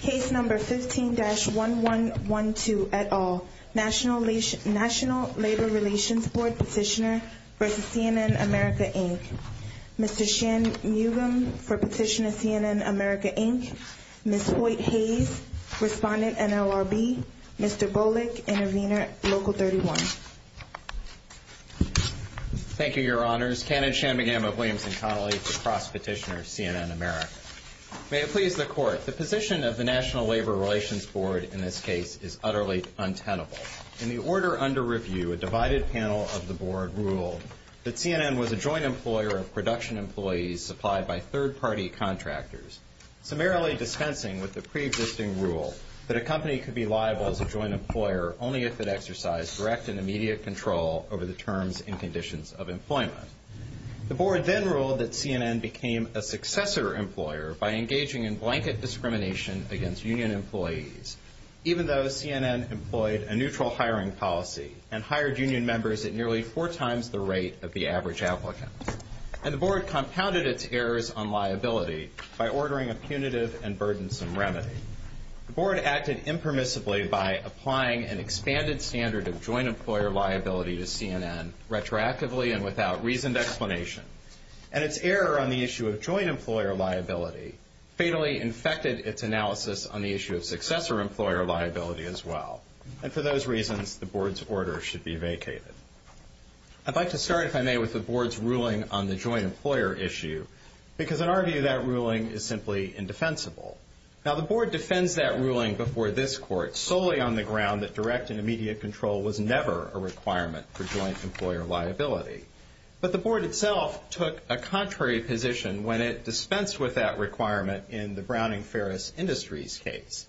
Case No. 15-1112, et al. National Labor Relations Board Petitioner v. CNN America, Inc. Mr. Shan Mugam for petition of CNN America, Inc. Ms. Hoyt Hayes, Respondent, NLRB. Mr. Bolick, Intervener, Local 31. Thank you, Your Honors. Kenneth Shanmugam of Williamson-Connolly, Cross Petitioner, CNN America. May it please the Court. The position of the National Labor Relations Board in this case is utterly untenable. In the order under review, a divided panel of the Board ruled that CNN was a joint employer of production employees supplied by third-party contractors, summarily dispensing with the preexisting rule that a company could be liable as a joint employer only if it exercised direct and immediate control over the terms and conditions of employment. The Board then ruled that CNN became a successor employer by engaging in blanket discrimination against union employees, even though CNN employed a neutral hiring policy and hired union members at nearly four times the rate of the average applicant. And the Board compounded its errors on liability by ordering a punitive and burdensome remedy. The Board acted impermissibly by applying an expanded standard of joint employer liability to CNN retroactively and without reasoned explanation, and its error on the issue of joint employer liability fatally infected its analysis on the issue of successor employer liability as well. And for those reasons, the Board's order should be vacated. I'd like to start, if I may, with the Board's ruling on the joint employer issue, because in our view, that ruling is simply indefensible. Now, the Board defends that ruling before this Court solely on the ground that direct and immediate control was never a requirement for joint employer liability. But the Board itself took a contrary position when it dispensed with that requirement in the Browning Ferris Industries case.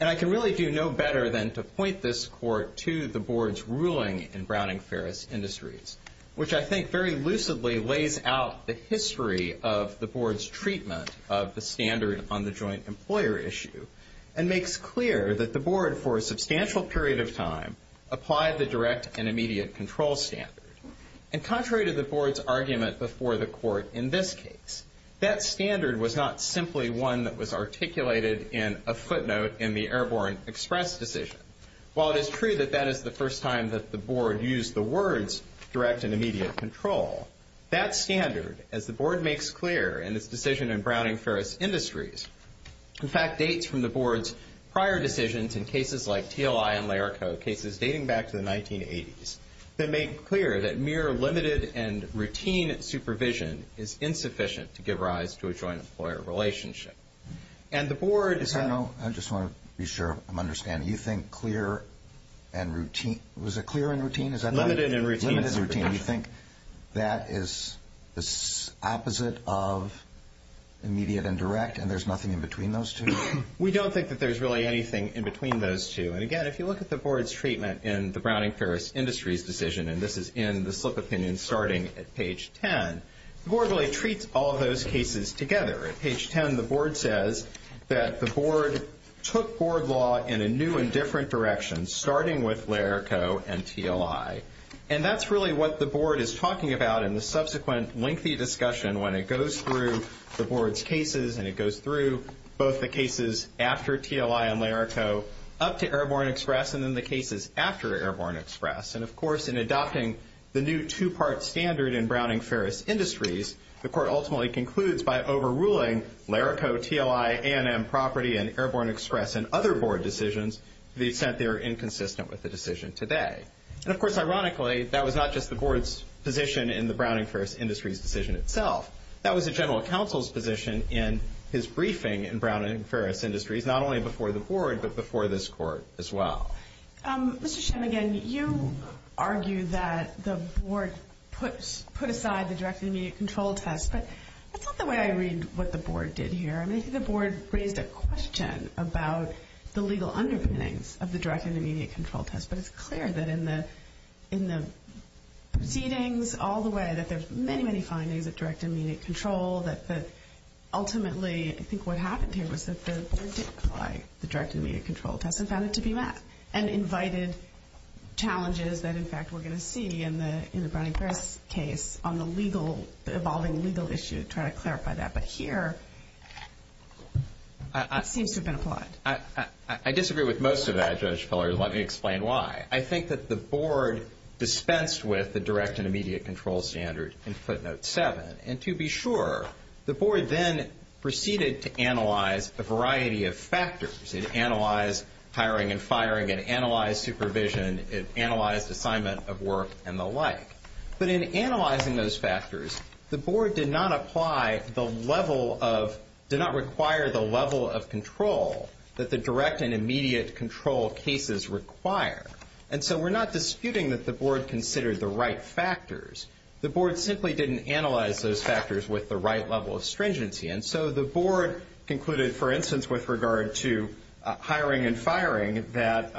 And I can really do no better than to point this Court to the Board's ruling in Browning Ferris Industries, which I think very lucidly lays out the history of the Board's treatment of the standard on the joint employer issue and makes clear that the Board, for a substantial period of time, applied the direct and immediate control standard. And contrary to the Board's argument before the Court in this case, that standard was not simply one that was articulated in a footnote in the Airborne Express decision. While it is true that that is the first time that the Board used the words direct and immediate control, that standard, as the Board makes clear in its decision in Browning Ferris Industries, in fact, dates from the Board's prior decisions in cases like TLI and LARICO, cases dating back to the 1980s, that made clear that mere limited and routine supervision is insufficient to give rise to a joint employer relationship. And the Board… I just want to be sure I'm understanding. You think clear and routine? Was it clear and routine? Limited and routine supervision. You think that is the opposite of immediate and direct, and there's nothing in between those two? We don't think that there's really anything in between those two. And again, if you look at the Board's treatment in the Browning Ferris Industries decision, and this is in the slip opinion starting at page 10, the Board really treats all those cases together. At page 10, the Board says that the Board took Board law in a new and different direction, starting with LARICO and TLI. And that's really what the Board is talking about in the subsequent lengthy discussion when it goes through the Board's cases and it goes through both the cases after TLI and LARICO, up to Airborne Express, and then the cases after Airborne Express. And, of course, in adopting the new two-part standard in Browning Ferris Industries, the Court ultimately concludes by overruling LARICO, TLI, A&M Property, and Airborne Express and other Board decisions to the extent they are inconsistent with the decision today. And, of course, ironically, that was not just the Board's position in the Browning Ferris Industries decision itself. That was the General Counsel's position in his briefing in Browning Ferris Industries, not only before the Board but before this Court as well. Mr. Shemmigan, you argue that the Board put aside the direct and immediate control test, but that's not the way I read what the Board did here. I mean, I think the Board raised a question about the legal underpinnings of the direct and immediate control test, but it's clear that in the proceedings all the way that there's many, many findings of direct and immediate control that ultimately I think what happened here was that the Board did apply the direct and immediate control test and found it to be met and invited challenges that, in fact, we're going to see in the Browning Ferris case on the legal, evolving legal issue, trying to clarify that. But here it seems to have been applied. I disagree with most of that, Judge Pillard. Let me explain why. I think that the Board dispensed with the direct and immediate control standard in footnote 7, and to be sure the Board then proceeded to analyze a variety of factors. It analyzed hiring and firing. It analyzed supervision. It analyzed assignment of work and the like. But in analyzing those factors, the Board did not apply the level of, did not require the level of control that the direct and immediate control cases require. And so we're not disputing that the Board considered the right factors. The Board simply didn't analyze those factors with the right level of stringency. And so the Board concluded, for instance, with regard to hiring and firing, that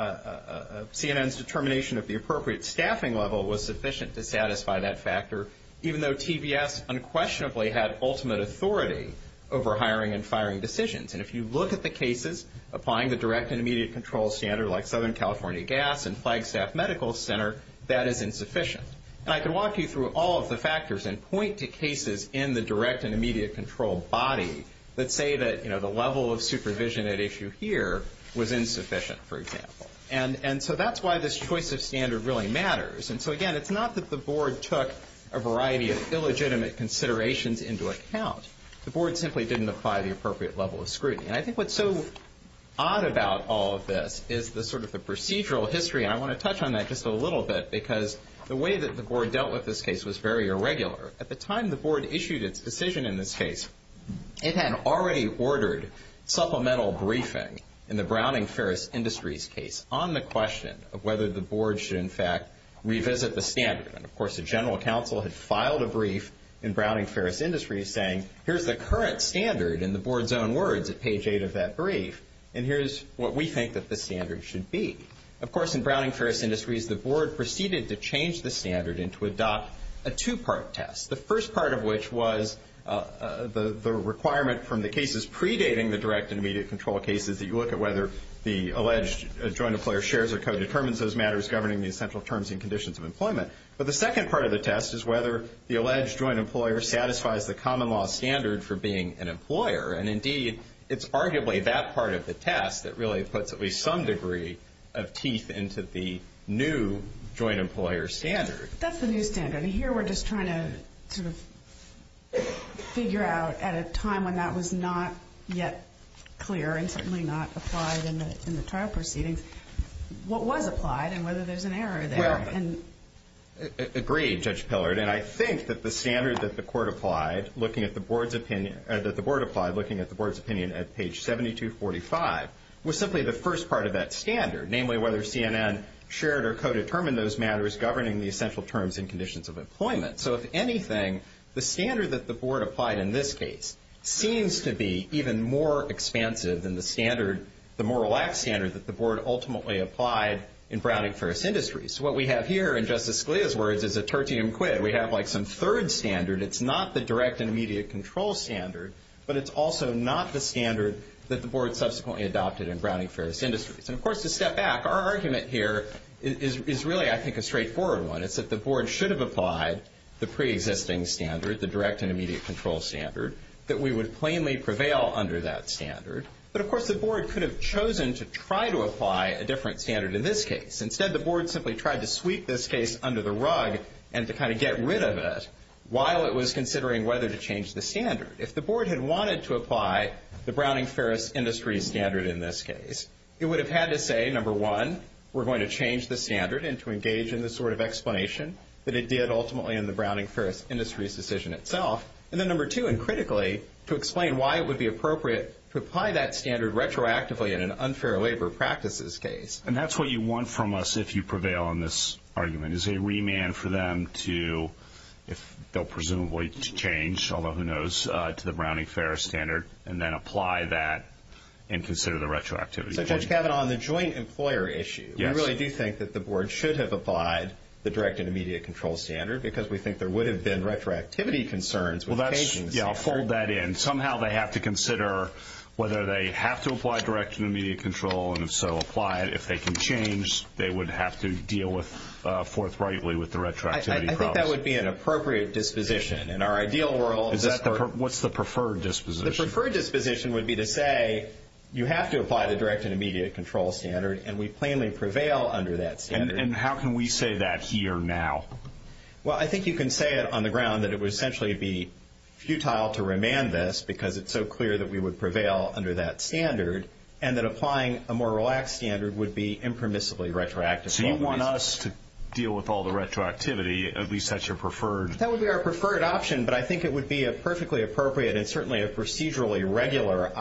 CNN's determination of the appropriate staffing level was sufficient to satisfy that factor, even though TVS unquestionably had ultimate authority over hiring and firing decisions. And if you look at the cases applying the direct and immediate control standard, like Southern California Gas and Flagstaff Medical Center, that is insufficient. And I can walk you through all of the factors and point to cases in the direct and immediate control body that say that the level of supervision at issue here was insufficient, for example. And so that's why this choice of standard really matters. And so, again, it's not that the Board took a variety of illegitimate considerations into account. The Board simply didn't apply the appropriate level of scrutiny. And I think what's so odd about all of this is the sort of the procedural history, and I want to touch on that just a little bit because the way that the Board dealt with this case was very irregular. At the time the Board issued its decision in this case, it had already ordered supplemental briefing in the Browning-Ferris Industries case on the question of whether the Board should, in fact, revisit the standard. And, of course, the General Counsel had filed a brief in Browning-Ferris Industries saying, here's the current standard in the Board's own words at page 8 of that brief, and here's what we think that the standard should be. Of course, in Browning-Ferris Industries, the Board proceeded to change the standard and to adopt a two-part test, the first part of which was the requirement from the cases predating the direct and immediate control cases that you look at whether the alleged joint employer shares or co-determines those matters governing the essential terms and conditions of employment. But the second part of the test is whether the alleged joint employer satisfies the common law standard for being an employer. And, indeed, it's arguably that part of the test that really puts at least some degree of teeth into the new joint employer standard. That's the new standard. Here we're just trying to sort of figure out, at a time when that was not yet clear and certainly not applied in the trial proceedings, what was applied and whether there's an error there. Agreed, Judge Pillard. Agreed, and I think that the standard that the Court applied looking at the Board's opinion at page 7245 was simply the first part of that standard, namely whether CNN shared or co-determined those matters governing the essential terms and conditions of employment. So, if anything, the standard that the Board applied in this case seems to be even more expansive than the standard, the Morrill Act standard that the Board ultimately applied in Browning-Ferris Industries. What we have here, in Justice Scalia's words, is a tertium quid. We have, like, some third standard. It's not the direct and immediate control standard, but it's also not the standard that the Board subsequently adopted in Browning-Ferris Industries. And, of course, to step back, our argument here is really, I think, a straightforward one. It's that the Board should have applied the preexisting standard, the direct and immediate control standard, that we would plainly prevail under that standard. But, of course, the Board could have chosen to try to apply a different standard in this case. Instead, the Board simply tried to sweep this case under the rug and to kind of get rid of it while it was considering whether to change the standard. If the Board had wanted to apply the Browning-Ferris Industries standard in this case, it would have had to say, number one, we're going to change the standard and to engage in the sort of explanation that it did ultimately in the Browning-Ferris Industries decision itself, and then, number two, and critically, to explain why it would be appropriate to apply that standard retroactively in an unfair labor practices case. And that's what you want from us if you prevail on this argument, is a remand for them to, if they'll presumably change, although who knows, to the Browning-Ferris standard and then apply that and consider the retroactivity. So, Judge Cavanaugh, on the joint employer issue, we really do think that the Board should have applied the direct and immediate control standard because we think there would have been retroactivity concerns with changing the standard. Yeah, I'll fold that in. Somehow they have to consider whether they have to apply direct and immediate control, and if so, apply it. If they can change, they would have to deal forthrightly with the retroactivity process. I think that would be an appropriate disposition in our ideal world. What's the preferred disposition? The preferred disposition would be to say you have to apply the direct and immediate control standard and we plainly prevail under that standard. And how can we say that here now? Well, I think you can say it on the ground that it would essentially be futile to remand this because it's so clear that we would prevail under that standard and that applying a more relaxed standard would be impermissibly retroactive. So you want us to deal with all the retroactivity, at least that's your preferred? That would be our preferred option, but I think it would be a perfectly appropriate and certainly a procedurally regular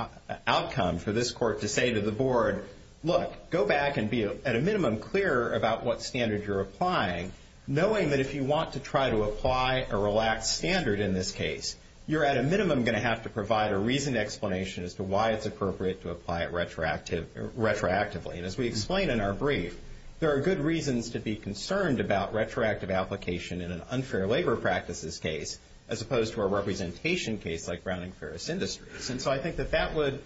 outcome for this Court to say to the Board, look, go back and be at a minimum clearer about what standard you're applying, knowing that if you want to try to apply a relaxed standard in this case, you're at a minimum going to have to provide a reasoned explanation as to why it's appropriate to apply it retroactively. And as we explain in our brief, there are good reasons to be concerned about retroactive application in an unfair labor practices case as opposed to a representation case like Browning-Ferris Industries. And so I think that that would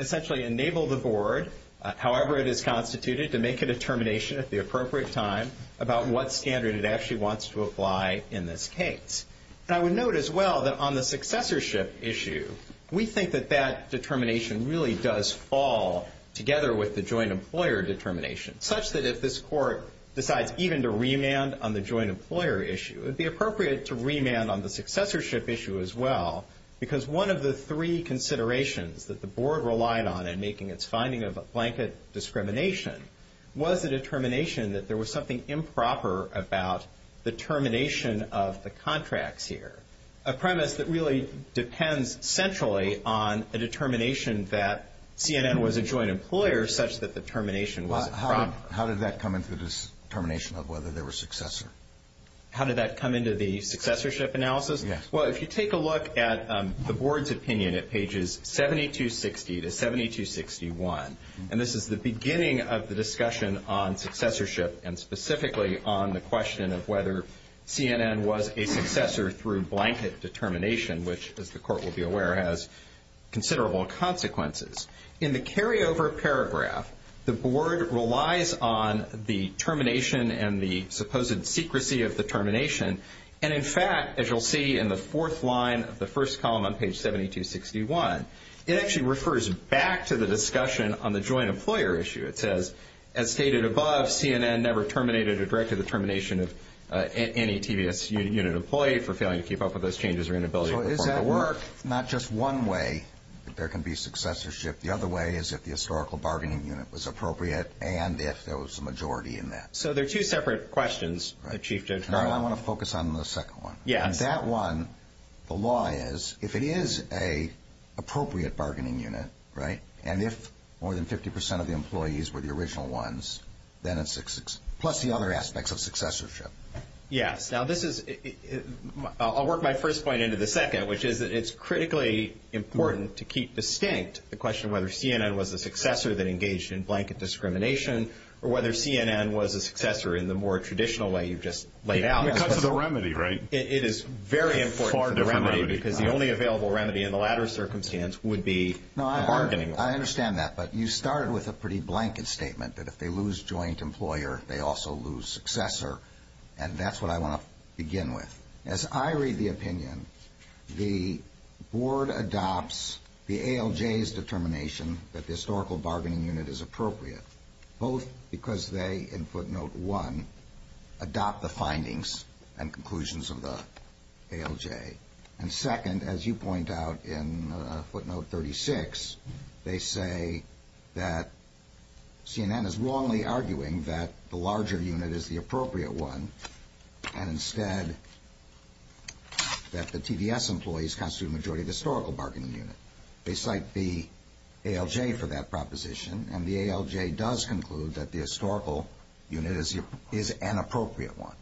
essentially enable the Board, however it is constituted, to make a determination at the appropriate time about what standard it actually wants to apply in this case. And I would note as well that on the successorship issue, we think that that determination really does fall together with the joint employer determination, such that if this Court decides even to remand on the joint employer issue, it would be appropriate to remand on the successorship issue as well because one of the three considerations that the Board relied on in making its finding of blanket discrimination was the determination that there was something improper about the termination of the contracts here, a premise that really depends centrally on a determination that CNN was a joint employer such that the termination was improper. How did that come into the determination of whether they were successor? How did that come into the successorship analysis? Yes. Well, if you take a look at the Board's opinion at pages 7260 to 7261, and this is the beginning of the discussion on successorship and specifically on the question of whether CNN was a successor through blanket determination, which, as the Court will be aware, has considerable consequences. In the carryover paragraph, the Board relies on the termination and the supposed secrecy of the termination. And in fact, as you'll see in the fourth line of the first column on page 7261, it actually refers back to the discussion on the joint employer issue. It says, as stated above, CNN never terminated or directed the termination of any TVS unit employee for failing to keep up with those changes or inability to perform the work. So is that not just one way that there can be successorship? The other way is if the historical bargaining unit was appropriate and if there was a majority in that. So they're two separate questions, Chief Judge Carlin. I want to focus on the second one. Yes. That one, the law is, if it is an appropriate bargaining unit, right, and if more than 50 percent of the employees were the original ones, then it's success, plus the other aspects of successorship. Yes. Now this is, I'll work my first point into the second, which is that it's critically important to keep distinct the question of whether CNN was a successor that engaged in blanket discrimination or whether CNN was a successor in the more traditional way you've just laid out. It cuts to the remedy, right? It is very important to the remedy because the only available remedy in the latter circumstance would be a bargaining unit. I understand that, but you started with a pretty blanket statement that if they lose joint employer, they also lose successor, and that's what I want to begin with. As I read the opinion, the board adopts the ALJ's determination that the historical bargaining unit is appropriate, both because they, in footnote one, adopt the findings and conclusions of the ALJ, and second, as you point out in footnote 36, they say that CNN is wrongly arguing that the larger unit is the appropriate one and instead that the TVS employees constitute a majority of the historical bargaining unit. They cite the ALJ for that proposition, and the ALJ does conclude that the historical unit is an appropriate one.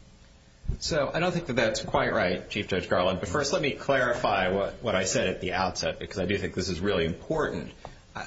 So I don't think that that's quite right, Chief Judge Garland, but first let me clarify what I said at the outset because I do think this is really important.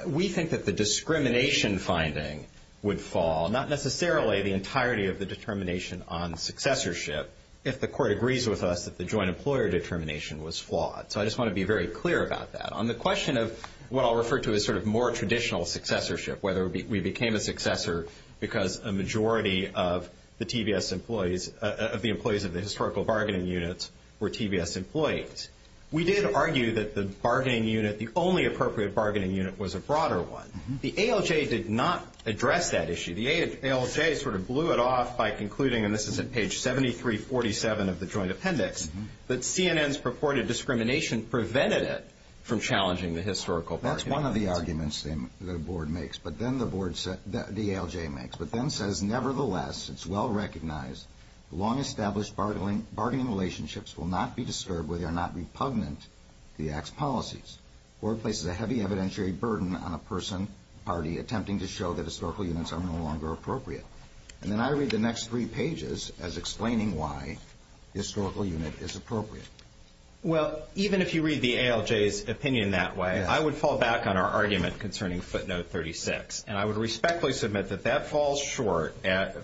We think that the discrimination finding would fall, not necessarily the entirety of the determination on successorship, if the court agrees with us that the joint employer determination was flawed. So I just want to be very clear about that. On the question of what I'll refer to as sort of more traditional successorship, whether we became a successor because a majority of the TVS employees, of the employees of the historical bargaining units were TVS employees, we did argue that the bargaining unit, the only appropriate bargaining unit, was a broader one. The ALJ did not address that issue. The ALJ sort of blew it off by concluding, and this is at page 7347 of the joint appendix, that CNN's purported discrimination prevented it from challenging the historical bargaining unit. That's one of the arguments the board makes, but then the ALJ makes, but then says, nevertheless, it's well recognized, long-established bargaining relationships will not be disturbed where they are not repugnant to the Act's policies. The board places a heavy evidentiary burden on a person, party, attempting to show that historical units are no longer appropriate. And then I read the next three pages as explaining why the historical unit is appropriate. Well, even if you read the ALJ's opinion that way, I would fall back on our argument concerning footnote 36, and I would respectfully submit that that falls short.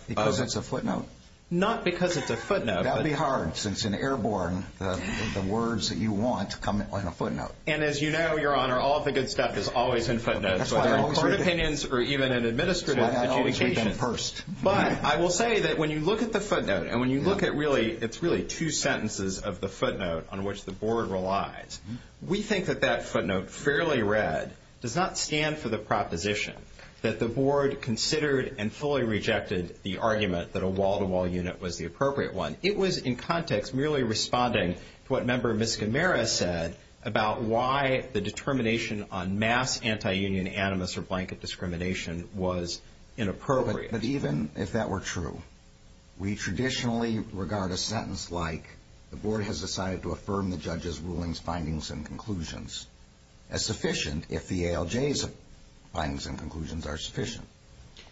Because it's a footnote? Not because it's a footnote. That would be hard, since in airborne, the words that you want come on a footnote. And as you know, Your Honor, all of the good stuff is always in footnotes, whether in court opinions or even in administrative adjudication. But I will say that when you look at the footnote, and when you look at really, it's really two sentences of the footnote on which the board relies, we think that that footnote, fairly read, does not stand for the proposition that the board considered and fully rejected the argument that a wall-to-wall unit was the appropriate one. It was, in context, merely responding to what Member Miscamara said about why the determination on mass anti-union animus or blanket discrimination was inappropriate. But even if that were true, we traditionally regard a sentence like, the board has decided to affirm the judge's rulings, findings, and conclusions as sufficient if the ALJ's findings and conclusions are sufficient.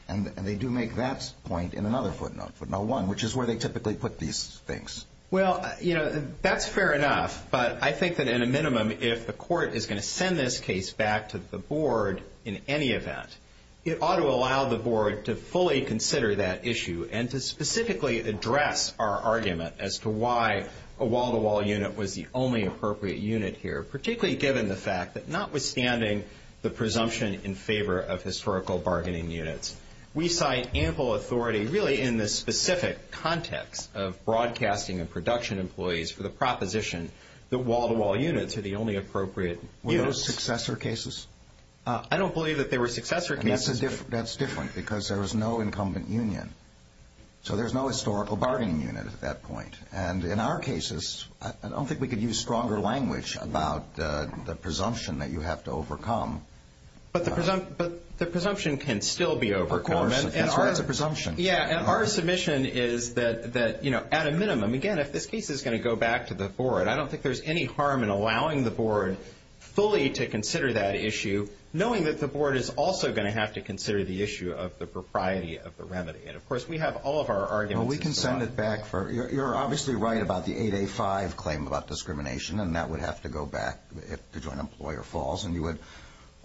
And they do make that point in another footnote, footnote 1, which is where they typically put these things. Well, you know, that's fair enough. But I think that in a minimum, if the court is going to send this case back to the board in any event, it ought to allow the board to fully consider that issue and to specifically address our argument as to why a wall-to-wall unit was the only appropriate unit here, particularly given the fact that notwithstanding the presumption in favor of historical bargaining units, we cite ample authority really in this specific context of broadcasting and production employees for the proposition that wall-to-wall units are the only appropriate units. Were those successor cases? I don't believe that they were successor cases. That's different because there was no incumbent union. So there's no historical bargaining unit at that point. And in our cases, I don't think we could use stronger language about the presumption that you have to overcome. But the presumption can still be overcome. Of course, that's why it's a presumption. Yeah, and our submission is that, you know, at a minimum, again, if this case is going to go back to the board, I don't think there's any harm in allowing the board fully to consider that issue, knowing that the board is also going to have to consider the issue of the propriety of the remedy. And, of course, we have all of our arguments. Well, we can send it back. You're obviously right about the 8A-5 claim about discrimination, and that would have to go back if the joint employer falls. And you would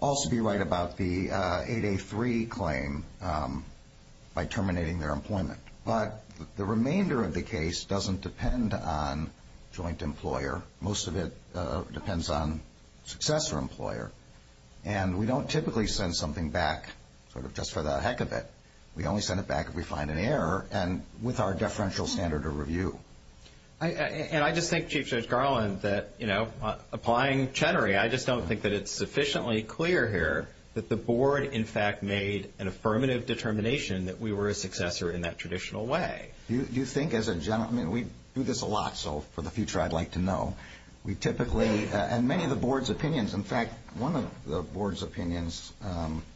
also be right about the 8A-3 claim by terminating their employment. But the remainder of the case doesn't depend on joint employer. Most of it depends on successor employer. And we don't typically send something back sort of just for the heck of it. We only send it back if we find an error and with our deferential standard of review. And I just think, Chief Judge Garland, that, you know, applying Chenery, I just don't think that it's sufficiently clear here that the board, in fact, made an affirmative determination that we were a successor in that traditional way. You think, as a gentleman, we do this a lot, so for the future I'd like to know. We typically, and many of the board's opinions, in fact, one of the board's opinions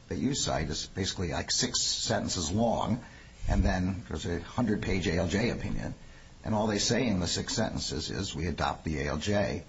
that you cite is basically like six sentences long, and then there's a 100-page ALJ opinion. And all they say in the six sentences is we adopt the ALJ.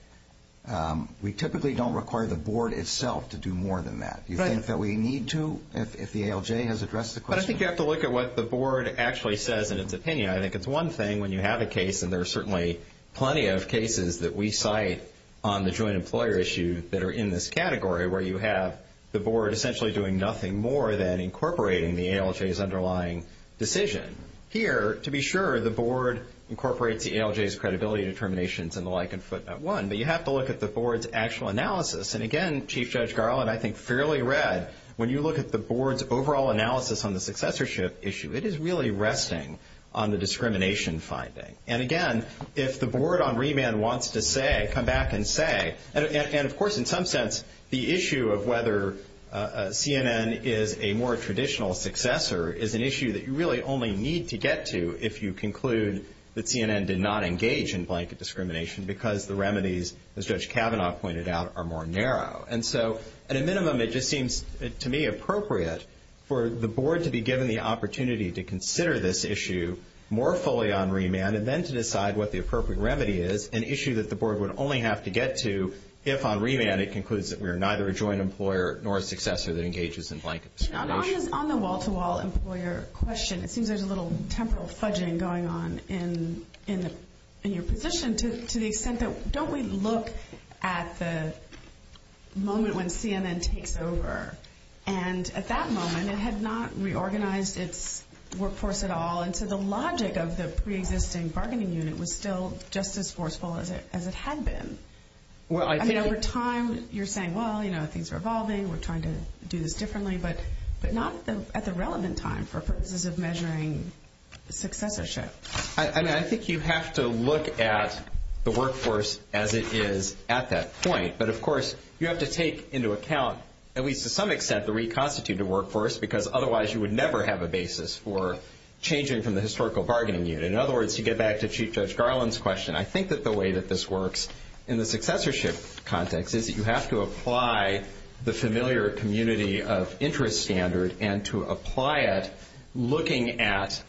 We typically don't require the board itself to do more than that. Do you think that we need to if the ALJ has addressed the question? But I think you have to look at what the board actually says in its opinion. I think it's one thing when you have a case, and there are certainly plenty of cases that we cite on the joint employer issue that are in this category where you have the board essentially doing nothing more than incorporating the ALJ's underlying decision. Here, to be sure, the board incorporates the ALJ's credibility determinations and the like in Footnote 1, but you have to look at the board's actual analysis. And again, Chief Judge Garland, I think fairly read, when you look at the board's overall analysis on the successorship issue, it is really resting on the discrimination finding. And again, if the board on remand wants to say, come back and say, and of course in some sense the issue of whether CNN is a more traditional successor is an issue that you really only need to get to if you conclude that CNN did not engage in blanket discrimination because the remedies, as Judge Kavanaugh pointed out, are more narrow. And so at a minimum it just seems to me appropriate for the board to be given the opportunity to consider this issue more fully on remand and then to decide what the appropriate remedy is, an issue that the board would only have to get to if on remand it concludes that we are neither a joint employer nor a successor that engages in blanket discrimination. On the wall-to-wall employer question, it seems there's a little temporal fudging going on in your position to the extent that don't we look at the moment when CNN takes over? And at that moment it had not reorganized its workforce at all, and so the logic of the preexisting bargaining unit was still just as forceful as it had been. I mean, over time you're saying, well, you know, things are evolving, we're trying to do this differently, but not at the relevant time for purposes of measuring successorship. I mean, I think you have to look at the workforce as it is at that point, but of course you have to take into account at least to some extent the reconstituted workforce because otherwise you would never have a basis for changing from the historical bargaining unit. In other words, to get back to Chief Judge Garland's question, I think that the way that this works in the successorship context is that you have to apply the familiar community of interest standard and to apply it looking at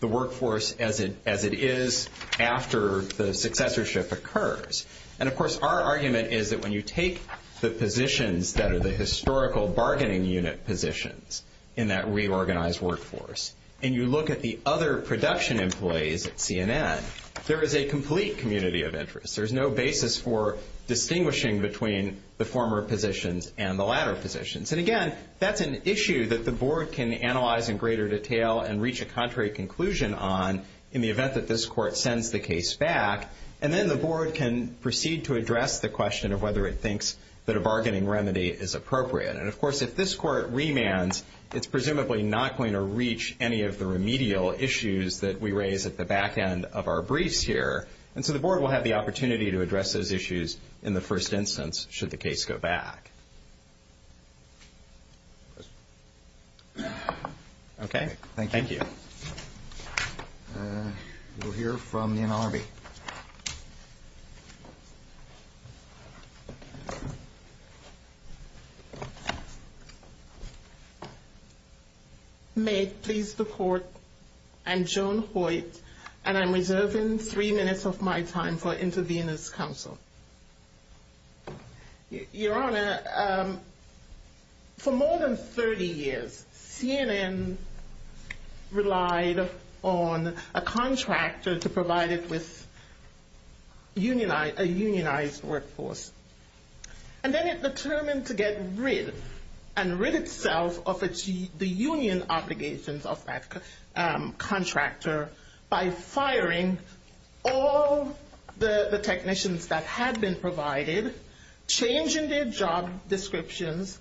the workforce as it is after the successorship occurs. And of course our argument is that when you take the positions that are the historical bargaining unit positions in that reorganized workforce and you look at the other production employees at CNN, there is a complete community of interest. There is no basis for distinguishing between the former positions and the latter positions. And again, that's an issue that the board can analyze in greater detail and reach a contrary conclusion on in the event that this court sends the case back, and then the board can proceed to address the question of whether it thinks that a bargaining remedy is appropriate. And of course if this court remands, it's presumably not going to reach any of the remedial issues And so the board will have the opportunity to address those issues in the first instance should the case go back. Okay. Thank you. We'll hear from the NLRB. May it please the court, I'm Joan Hoyt, and I'm reserving three minutes of my time for intervener's counsel. Your Honor, for more than 30 years, CNN relied on a contractor to provide it with a unionized workforce. And then it determined to get rid and rid itself of the union obligations of that contractor by firing all the technicians that had been provided, changing their job descriptions,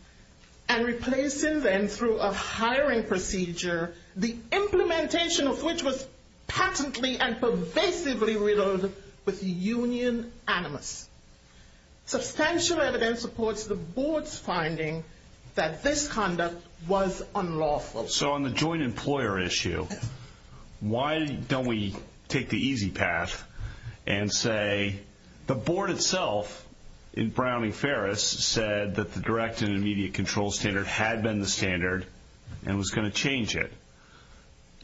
and replacing them through a hiring procedure, the implementation of which was patently and pervasively riddled with union animus. Substantial evidence supports the board's finding that this conduct was unlawful. So on the joint employer issue, why don't we take the easy path and say the board itself in Brown v. Ferris said that the direct and immediate control standard had been the standard and was going to change it.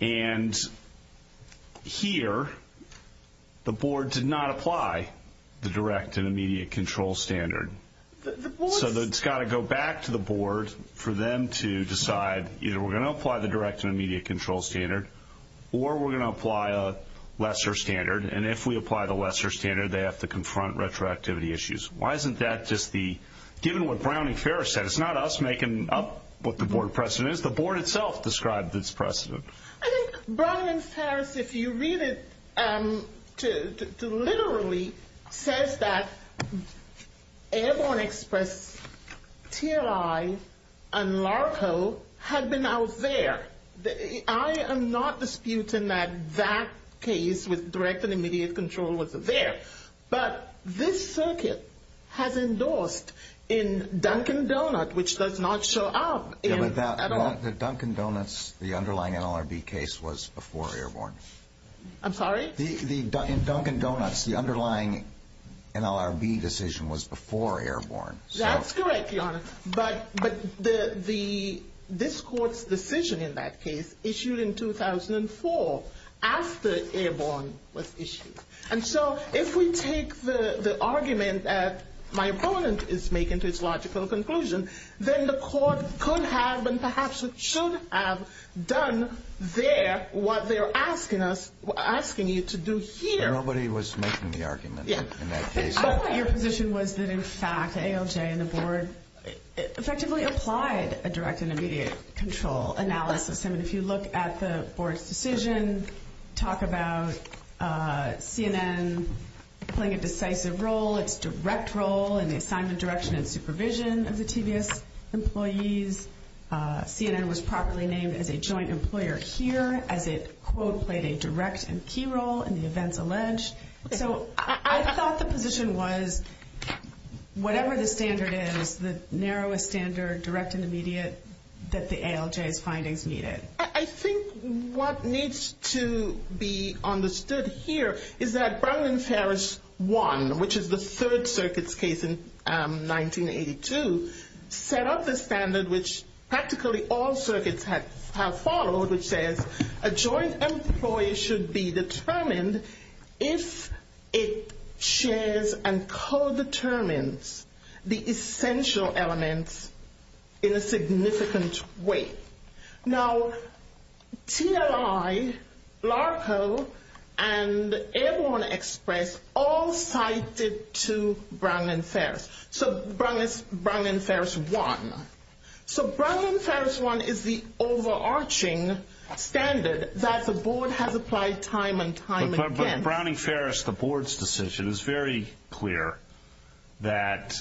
And here the board did not apply the direct and immediate control standard. So it's got to go back to the board for them to decide either we're going to apply the direct and immediate control standard or we're going to apply a lesser standard. And if we apply the lesser standard, they have to confront retroactivity issues. Why isn't that just the – given what Brown v. Ferris said, it's not us making up what the board precedent is. The board itself described its precedent. I think Brown v. Ferris, if you read it, literally says that Airborne Express, TLI, and LARCO had been out there. I am not disputing that that case with direct and immediate control was there. But this circuit has endorsed in Dunkin' Donuts, which does not show up in – In Dunkin' Donuts, the underlying NLRB case was before Airborne. I'm sorry? In Dunkin' Donuts, the underlying NLRB decision was before Airborne. That's correct, Your Honor. But this court's decision in that case issued in 2004 after Airborne was issued. And so if we take the argument that my opponent is making to its logical conclusion, then the court could have and perhaps should have done there what they're asking us – asking you to do here. Nobody was making the argument in that case. I thought your position was that, in fact, ALJ and the board effectively applied a direct and immediate control analysis. I mean, if you look at the board's decision, talk about CNN playing a decisive role, its direct role in the assignment, direction, and supervision of the TVS employees. CNN was properly named as a joint employer here as it, quote, played a direct and key role in the events alleged. So I thought the position was, whatever the standard is, the narrowest standard, direct and immediate, that the ALJ's findings meet it. I think what needs to be understood here is that Brown v. Ferris I, which is the Third Circuit's case in 1982, set up the standard which practically all circuits have followed, which says a joint employee should be determined if it shares and co-determines the essential elements in a significant way. Now, TLI, LARCO, and Airborne Express all cited to Brown v. Ferris. So Brown v. Ferris I. So Brown v. Ferris I is the overarching standard that the board has applied time and time again. But Brown v. Ferris, the board's decision, is very clear that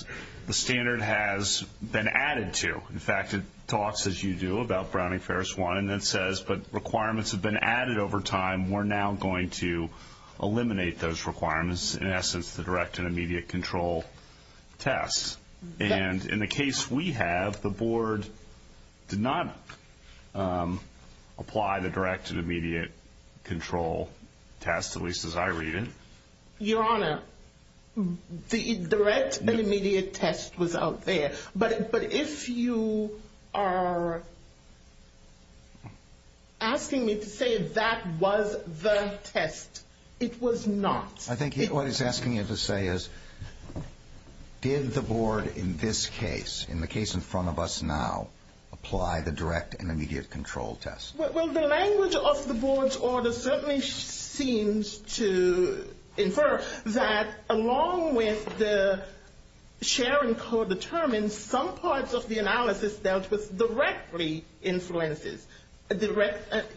the standard has been added to. In fact, it talks, as you do, about Brown v. Ferris I and then says, but requirements have been added over time. We're now going to eliminate those requirements, in essence, the direct and immediate control test. And in the case we have, the board did not apply the direct and immediate control test, at least as I read it. Your Honor, the direct and immediate test was out there, but if you are asking me to say that was the test, it was not. I think what he's asking you to say is, did the board in this case, in the case in front of us now, apply the direct and immediate control test? Well, the language of the board's order certainly seems to infer that, along with the share and co-determined, some parts of the analysis dealt with directly influences.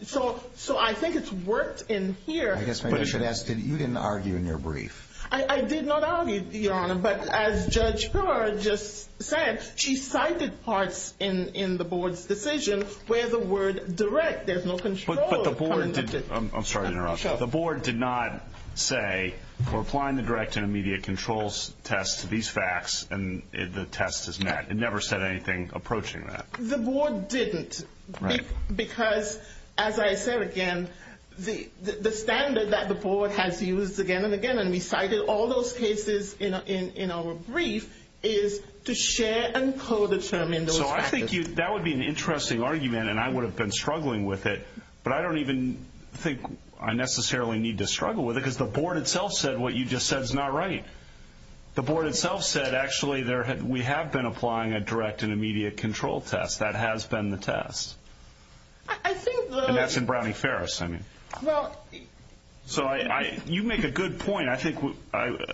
So I think it's worked in here. I guess maybe I should ask, you didn't argue in your brief. I did not argue, Your Honor, but as Judge Pillar just said, she cited parts in the board's decision where the word direct, there's no control. I'm sorry to interrupt. The board did not say, we're applying the direct and immediate control test to these facts, and the test is met. It never said anything approaching that. The board didn't, because as I said again, the standard that the board has used again and again, and we cited all those cases in our brief, is to share and co-determine those facts. So I think that would be an interesting argument, and I would have been struggling with it, but I don't even think I necessarily need to struggle with it, because the board itself said what you just said is not right. The board itself said, actually, we have been applying a direct and immediate control test. That has been the test. And that's in Brown v. Ferris, I mean. So you make a good point, I think,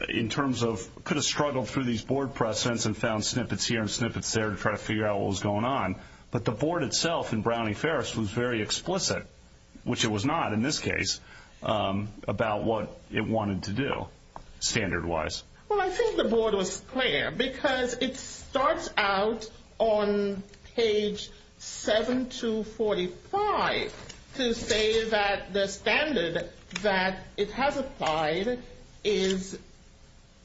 in terms of could have struggled through these board precedents and found snippets here and snippets there to try to figure out what was going on, but the board itself in Brown v. Ferris was very explicit, which it was not in this case, about what it wanted to do, standard-wise. Well, I think the board was clear, because it starts out on page 7245 to say that the standard that it has applied is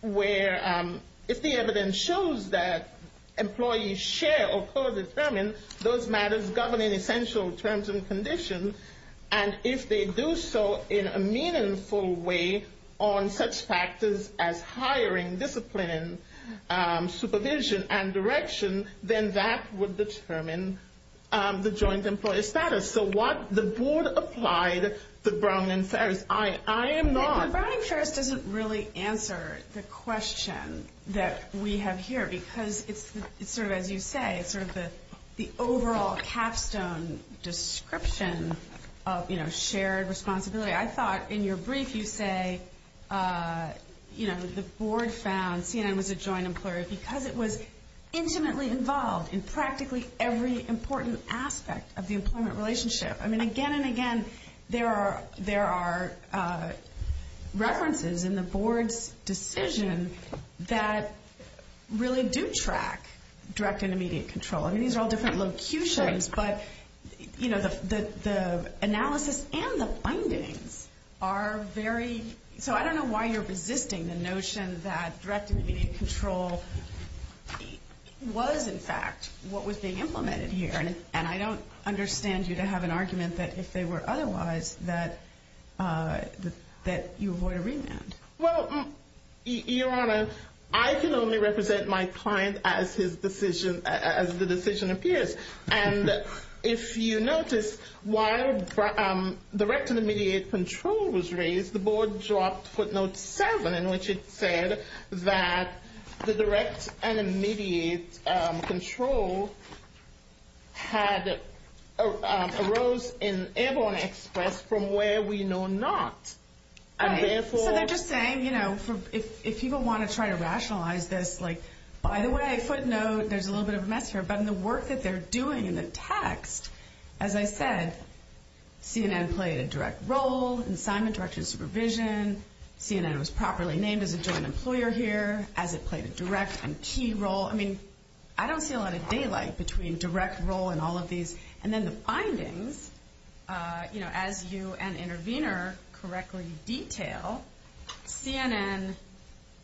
where, if the evidence shows that employees share or co-determine those matters governing essential terms and conditions, and if they do so in a meaningful way on such factors as hiring, discipline, supervision, and direction, then that would determine the joint employee status. So what the board applied to Brown v. Ferris, I am not… the question that we have here, because it's sort of, as you say, it's sort of the overall capstone description of shared responsibility. I thought, in your brief, you say, you know, the board found CNN was a joint employer because it was intimately involved in practically every important aspect of the employment relationship. I mean, again and again, there are references in the board's decision that really do track direct and immediate control. I mean, these are all different locutions, but, you know, the analysis and the findings are very… So I don't know why you're resisting the notion that direct and immediate control was, in fact, what was being implemented here. And I don't understand you to have an argument that, if they were otherwise, that you avoid a remand. Well, Your Honor, I can only represent my client as the decision appears. And if you notice, while direct and immediate control was raised, the board dropped footnote 7, in which it said that the direct and immediate control had arose in Airborne Express from where we know not. So they're just saying, you know, if people want to try to rationalize this, like, by the way, footnote, there's a little bit of a mess here. But in the work that they're doing in the text, as I said, CNN played a direct role in assignment, direction, supervision. CNN was properly named as a joint employer here as it played a direct and key role. I mean, I don't see a lot of daylight between direct role and all of these. And then the findings, you know, as you and intervener correctly detail, CNN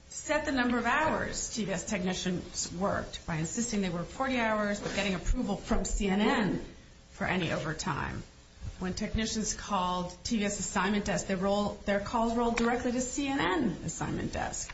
set the number of hours TVS technicians worked by insisting they worked 40 hours but getting approval from CNN for any overtime. When technicians called TVS assignment desk, their calls rolled directly to CNN assignment desk.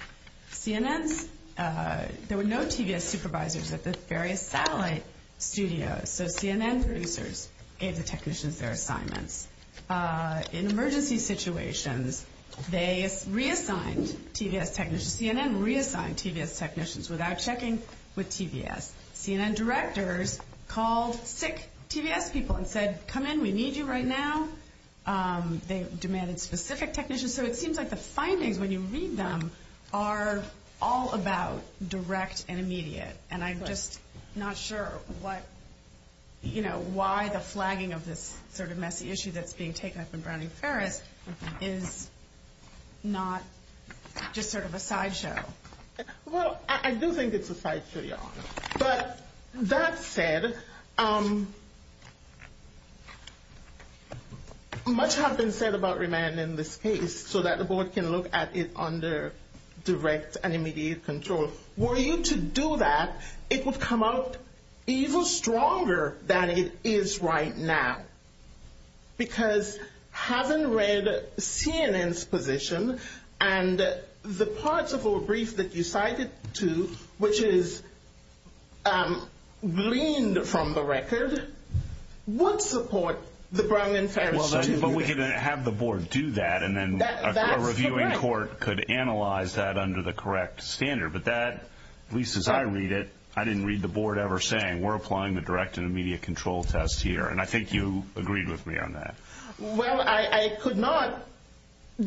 CNN's, there were no TVS supervisors at the various satellite studios. So CNN producers gave the technicians their assignments. In emergency situations, they reassigned TVS technicians. CNN reassigned TVS technicians without checking with TVS. CNN directors called sick TVS people and said, come in, we need you right now. They demanded specific technicians. So it seems like the findings, when you read them, are all about direct and immediate. And I'm just not sure what, you know, why the flagging of this sort of messy issue that's being taken up in Browning Ferris is not just sort of a sideshow. Well, I do think it's a sideshow, Your Honor. But that said, much has been said about remanding this case so that the board can look at it under direct and immediate control. Were you to do that, it would come out even stronger than it is right now. Because having read CNN's position and the parts of a brief that you cited to, which is gleaned from the record, would support the Browning Ferris. But we can have the board do that. And then a reviewing court could analyze that under the correct standard. But that, at least as I read it, I didn't read the board ever saying we're applying the direct and immediate control test here. And I think you agreed with me on that. Well, I could not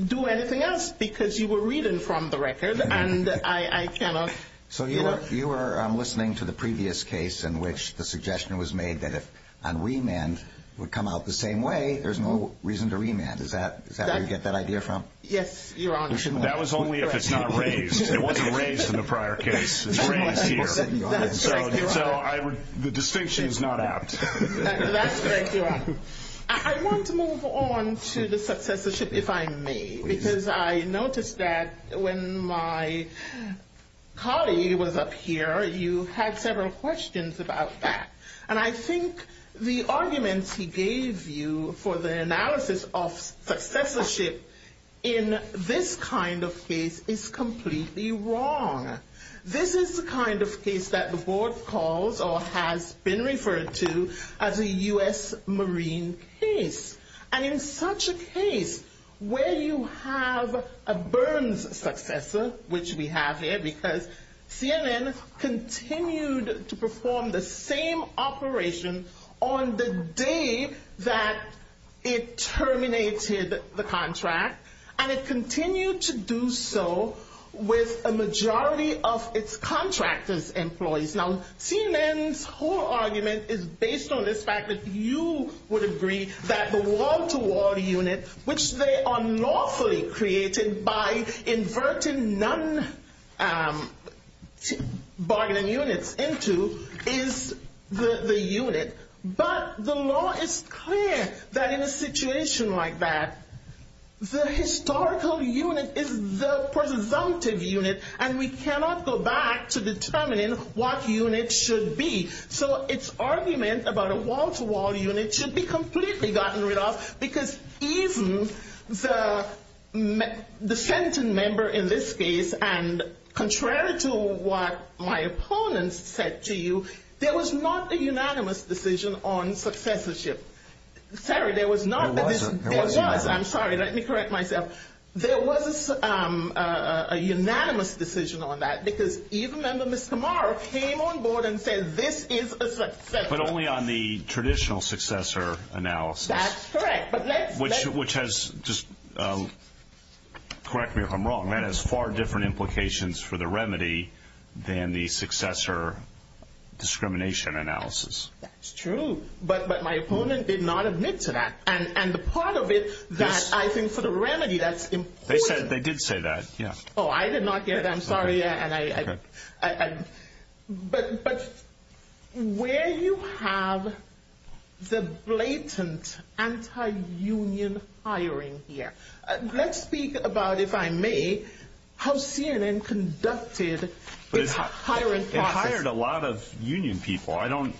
do anything else because you were reading from the record. And I cannot. So you were listening to the previous case in which the suggestion was made that if a remand would come out the same way, there's no reason to remand. Is that where you get that idea from? Yes, Your Honor. That was only if it's not raised. It wasn't raised in the prior case. It's raised here. So the distinction is not apt. That's correct, Your Honor. I want to move on to the successorship, if I may. Because I noticed that when my colleague was up here, you had several questions about that. And I think the arguments he gave you for the analysis of successorship in this kind of case is completely wrong. This is the kind of case that the board calls or has been referred to as a U.S. Marine case. And in such a case where you have a Burns successor, which we have here, because CNN continued to perform the same operation on the day that it terminated the contract. And it continued to do so with a majority of its contractors' employees. Now, CNN's whole argument is based on this fact that you would agree that the wall-to-wall unit, which they unlawfully created by inverting none bargaining units into, is the unit. But the law is clear that in a situation like that, the historical unit is the presumptive unit. And we cannot go back to determining what unit should be. So its argument about a wall-to-wall unit should be completely gotten rid of. Because even the sentencing member in this case, and contrary to what my opponents said to you, there was not a unanimous decision on successorship. There wasn't. I'm sorry. Let me correct myself. There was a unanimous decision on that. Because even member Ms. Kamara came on board and said this is a successor. But only on the traditional successor analysis. That's correct. Which has, just correct me if I'm wrong, that has far different implications for the remedy than the successor discrimination analysis. That's true. But my opponent did not admit to that. And the part of it that I think for the remedy, that's important. They did say that, yeah. Oh, I did not hear that. I'm sorry. But where you have the blatant anti-union hiring here. Let's speak about, if I may, how CNN conducted its hiring process. They hired a lot of union people. I don't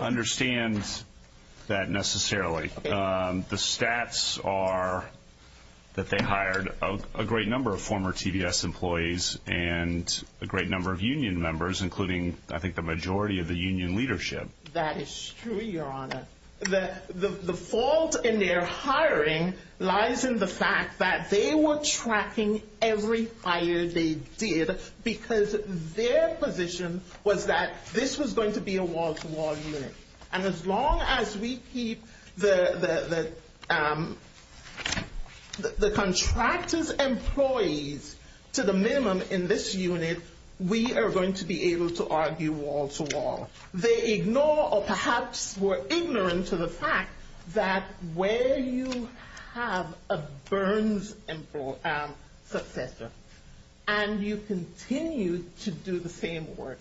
understand that necessarily. The stats are that they hired a great number of former TVS employees and a great number of union members, including I think the majority of the union leadership. That is true, your honor. The fault in their hiring lies in the fact that they were tracking every hire they did because their position was that this was going to be a wall-to-wall unit. And as long as we keep the contractors' employees to the minimum in this unit, we are going to be able to argue wall-to-wall. They ignore or perhaps were ignorant to the fact that where you have a Burns successor and you continue to do the same work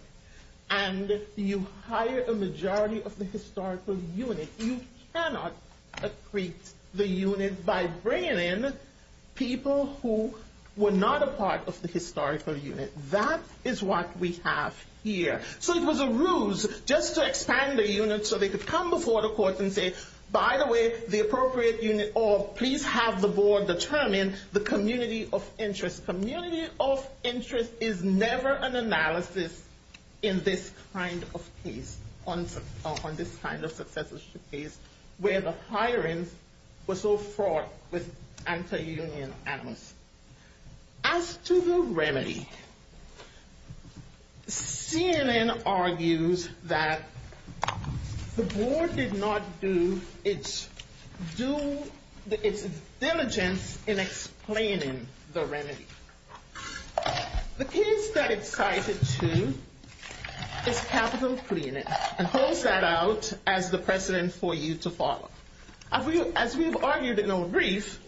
and you hire a majority of the historical unit, you cannot accrete the unit by bringing in people who were not a part of the historical unit. That is what we have here. So it was a ruse just to expand the unit so they could come before the court and say, by the way, the appropriate unit, or please have the board determine the community of interest. Community of interest is never an analysis in this kind of case, on this kind of successorship case, where the hiring was so fraught with anti-union animus. As to the remedy, CNN argues that the board did not do its diligence in explaining the remedy. The case that it cited to is Capitol Cleaning, and holds that out as the precedent for you to follow. As we have argued in our brief,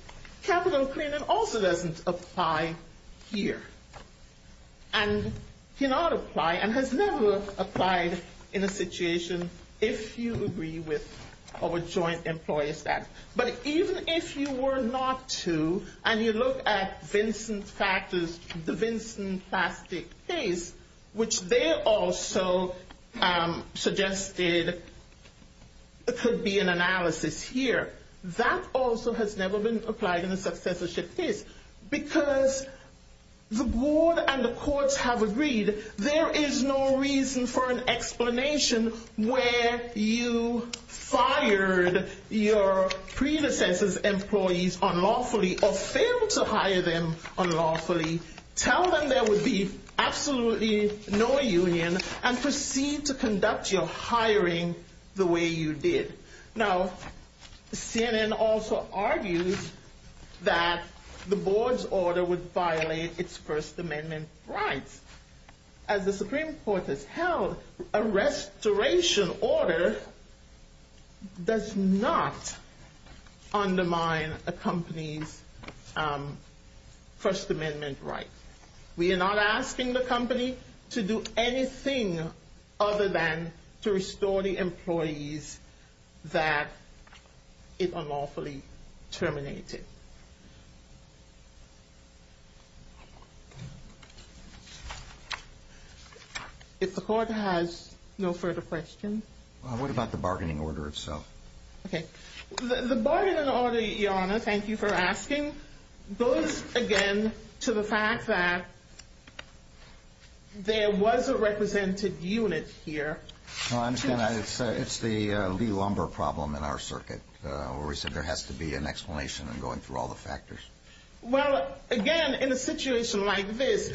Capitol Cleaning also doesn't apply here, and cannot apply and has never applied in a situation if you agree with our joint employer status. But even if you were not to, and you look at the Vincent Plastic case, which they also suggested could be an analysis here, that also has never been applied in a successorship case, because the board and the courts have agreed there is no reason for an explanation where you fired your predecessor's employees unlawfully, or failed to hire them unlawfully, tell them there would be absolutely no union, and proceed to conduct your hiring the way you did. Now, CNN also argues that the board's order would violate its First Amendment rights. As the Supreme Court has held, a restoration order does not undermine a company's First Amendment rights. We are not asking the company to do anything other than to restore the employees that it unlawfully terminated. If the court has no further questions. What about the bargaining order itself? The bargaining order, Your Honor, thank you for asking, goes again to the fact that there was a represented unit here. I understand that. It's the Lee-Lumber problem in our circuit, where we said there has to be an explanation in going through all the factors. Well, again, in a situation like this,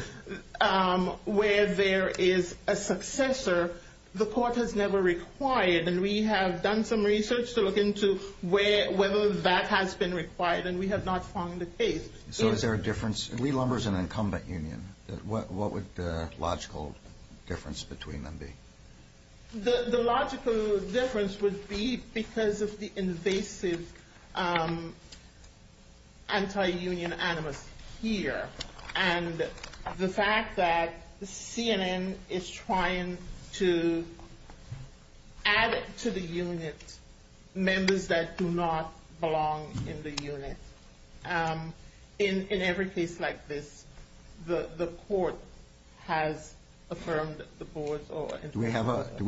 where there is a successor, the court has never required, and we have done some research to look into whether that has been required, and we have not found a case. So is there a difference? Lee-Lumber is an incumbent union. What would the logical difference between them be? The logical difference would be because of the invasive anti-union animus here, and the fact that CNN is trying to add to the unit members that do not belong in the unit. In every case like this, the court has affirmed the board. Do we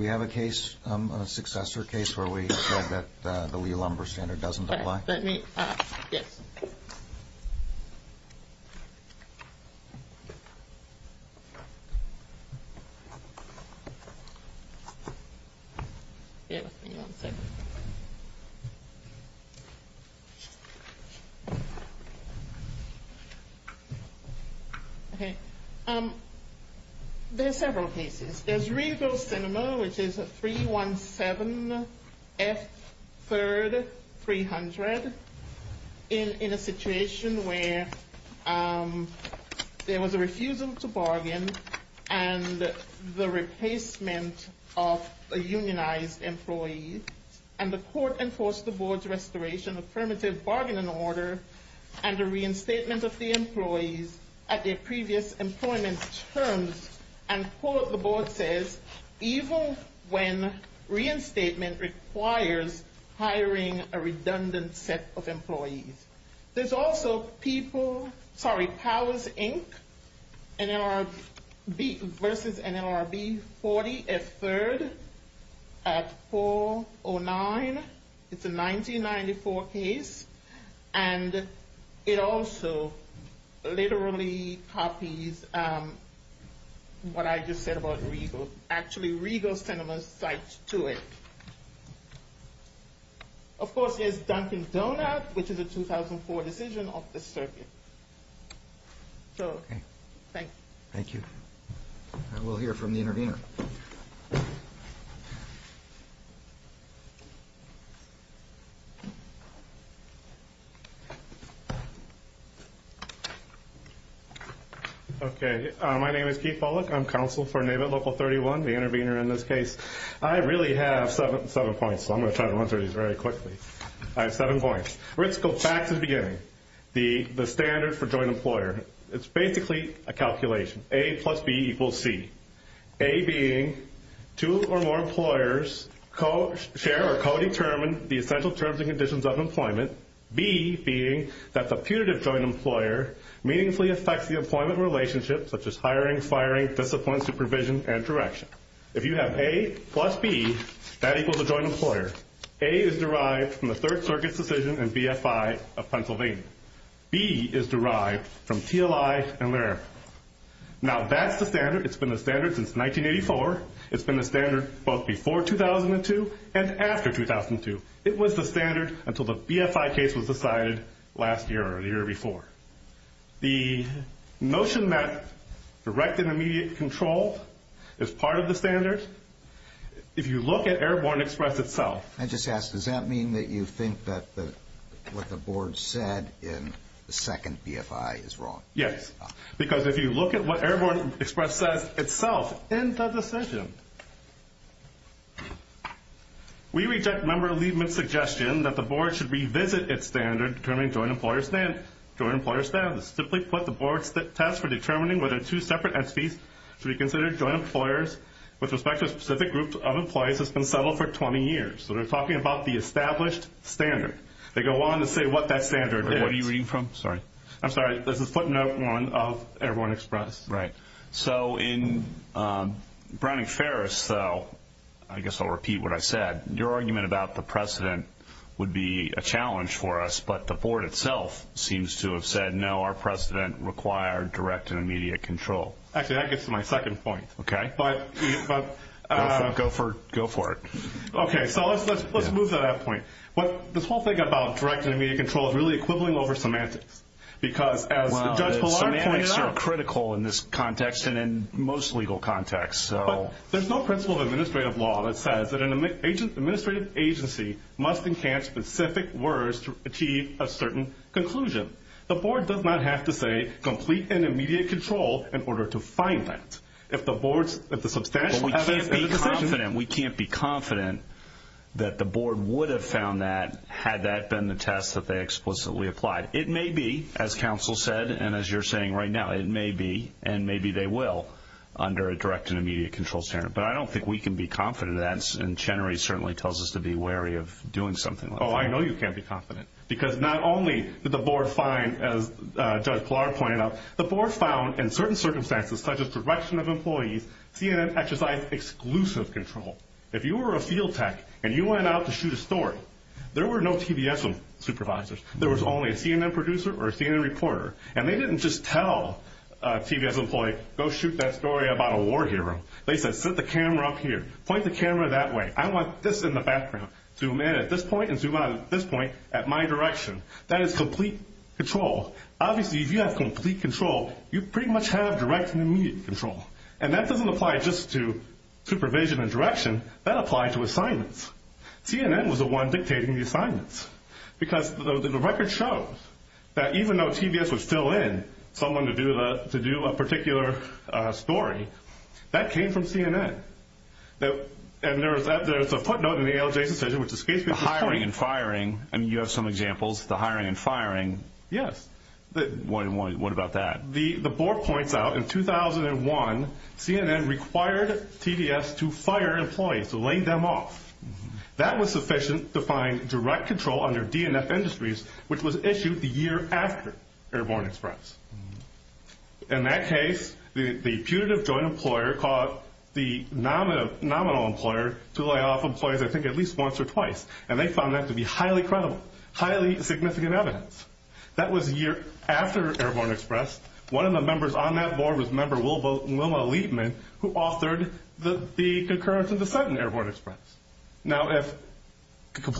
have a case, a successor case, where we said that the Lee-Lumber standard doesn't apply? Let me, yes. There are several cases. There's Regal Cinema, which is 317F3300, in a situation where there was a refusal to bargain, and the replacement of a unionized employee, and the court enforced the board's restoration affirmative bargaining order, and the reinstatement of the employees at their previous employment terms, and the board says, even when reinstatement requires hiring a redundant set of employees. There's also Powers, Inc., versus NLRB, 40F3rd, at 409. It's a 1994 case, and it also literally copies what I just said about Regal. Of course, there's Dunkin' Donuts, which is a 2004 decision of the circuit. So, thanks. Thank you. We'll hear from the intervener. Okay, my name is Keith Bullock. I'm counsel for NABIT Local 31, the intervener in this case. I really have seven points, so I'm going to try to answer these very quickly. I have seven points. Let's go back to the beginning, the standard for joint employer. It's basically a calculation, A plus B equals C, A being two or more employers share or co-determine the essential terms and conditions of employment, B being that the putative joint employer meaningfully affects the employment relationship, such as hiring, firing, discipline, supervision, and direction. If you have A plus B, that equals a joint employer. A is derived from the Third Circuit's decision in BFI of Pennsylvania. B is derived from TLI and LARAP. Now, that's the standard. It's been the standard since 1984. It's been the standard both before 2002 and after 2002. It was the standard until the BFI case was decided last year or the year before. The notion that direct and immediate control is part of the standard, if you look at Airborne Express itself. I just ask, does that mean that you think that what the board said in the second BFI is wrong? Yes, because if you look at what Airborne Express says itself in the decision, we reject member Liebman's suggestion that the board should revisit its standard determining joint employer standards. Simply put, the board's test for determining whether two separate entities should be considered joint employers with respect to a specific group of employees has been settled for 20 years. So, they're talking about the established standard. They go on to say what that standard is. What are you reading from? Sorry. I'm sorry. This is footnote one of Airborne Express. Right. So, in Browning-Ferris, I guess I'll repeat what I said. Your argument about the precedent would be a challenge for us, but the board itself seems to have said, no, our precedent required direct and immediate control. Actually, that gets to my second point. Okay. Go for it. Okay, so let's move to that point. This whole thing about direct and immediate control is really equivalent over semantics. Well, semantics are critical in this context and in most legal contexts. But there's no principle of administrative law that says that an administrative agency must encamp specific words to achieve a certain conclusion. The board does not have to say complete and immediate control in order to find that. If the board's – if the substantial evidence of the decision – But we can't be confident. We can't be confident that the board would have found that had that been the test that they explicitly applied. It may be, as counsel said and as you're saying right now, it may be, and maybe they will, under a direct and immediate control standard. But I don't think we can be confident of that, and Chenery certainly tells us to be wary of doing something like that. Oh, I know you can't be confident, because not only did the board find, as Judge Pilar pointed out, the board found in certain circumstances, such as direction of employees, CNN exercised exclusive control. If you were a field tech and you went out to shoot a story, there were no TVS supervisors. There was only a CNN producer or a CNN reporter. And they didn't just tell a TVS employee, go shoot that story about a war hero. They said, set the camera up here. Point the camera that way. I want this in the background. Zoom in at this point and zoom out at this point at my direction. That is complete control. Obviously, if you have complete control, you pretty much have direct and immediate control. And that doesn't apply just to supervision and direction. That applies to assignments. CNN was the one dictating the assignments, because the record shows that even though TVS was still in someone to do a particular story, that came from CNN. And there's a footnote in the ALJ's decision which escapes me. The hiring and firing. I mean, you have some examples. The hiring and firing. Yes. What about that? The board points out in 2001, CNN required TVS to fire employees, to lay them off. That was sufficient to find direct control under DNF Industries, which was issued the year after Airborne Express. In that case, the putative joint employer called the nominal employer to lay off employees, I think, at least once or twice. And they found that to be highly credible, highly significant evidence. That was a year after Airborne Express. One of the members on that board was member Wilma Liebman, who authored the concurrence and dissent in Airborne Express. Now, if direct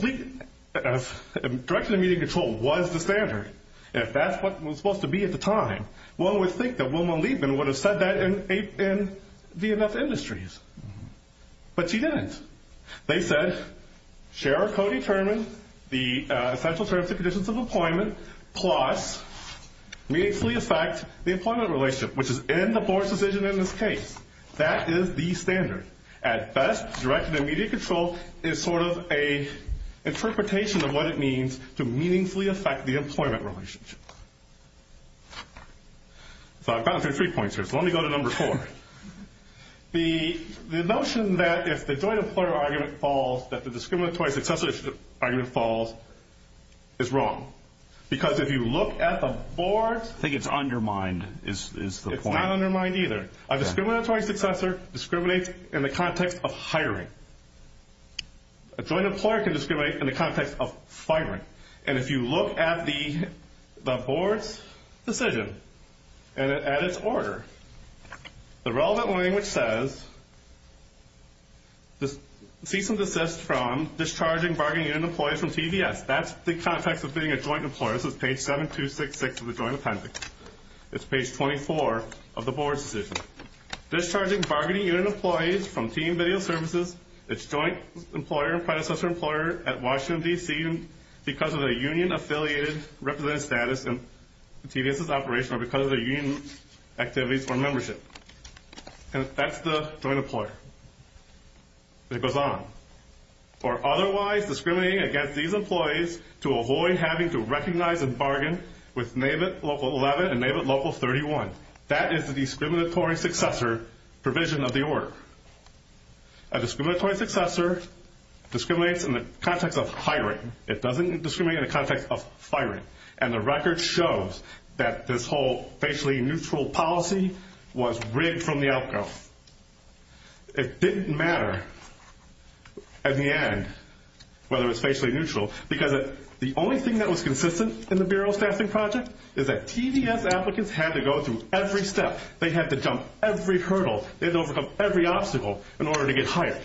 and immediate control was the standard, if that's what it was supposed to be at the time, one would think that Wilma Liebman would have said that in DNF Industries. But she didn't. They said, share or co-determine the essential terms and conditions of employment, plus meaningfully affect the employment relationship, which is in the board's decision in this case. That is the standard. At best, direct and immediate control is sort of an interpretation of what it means to meaningfully affect the employment relationship. So I've gone through three points here, so let me go to number four. The notion that if the joint employer argument falls, that the discriminatory successor argument falls is wrong. Because if you look at the board's- I think it's undermined is the point. It's not undermined either. A discriminatory successor discriminates in the context of hiring. A joint employer can discriminate in the context of firing. And if you look at the board's decision and at its order, the relevant language says, cease and desist from discharging bargaining unit employees from TVS. That's the context of being a joint employer. This is page 7266 of the joint appendix. It's page 24 of the board's decision. Discharging bargaining unit employees from TV and video services, its joint employer and predecessor employer at Washington, D.C., because of a union-affiliated representative status in TVS's operation or because of the union activities for membership. And that's the joint employer. It goes on. For otherwise discriminating against these employees to avoid having to recognize and bargain with NAVIT Local 11 and NAVIT Local 31. That is the discriminatory successor provision of the order. A discriminatory successor discriminates in the context of hiring. It doesn't discriminate in the context of firing. And the record shows that this whole facially neutral policy was rigged from the outgrowth. It didn't matter at the end whether it was facially neutral because the only thing that was consistent in the Bureau of Staffing Project is that TVS applicants had to go through every step. They had to jump every hurdle. They had to overcome every obstacle in order to get hired.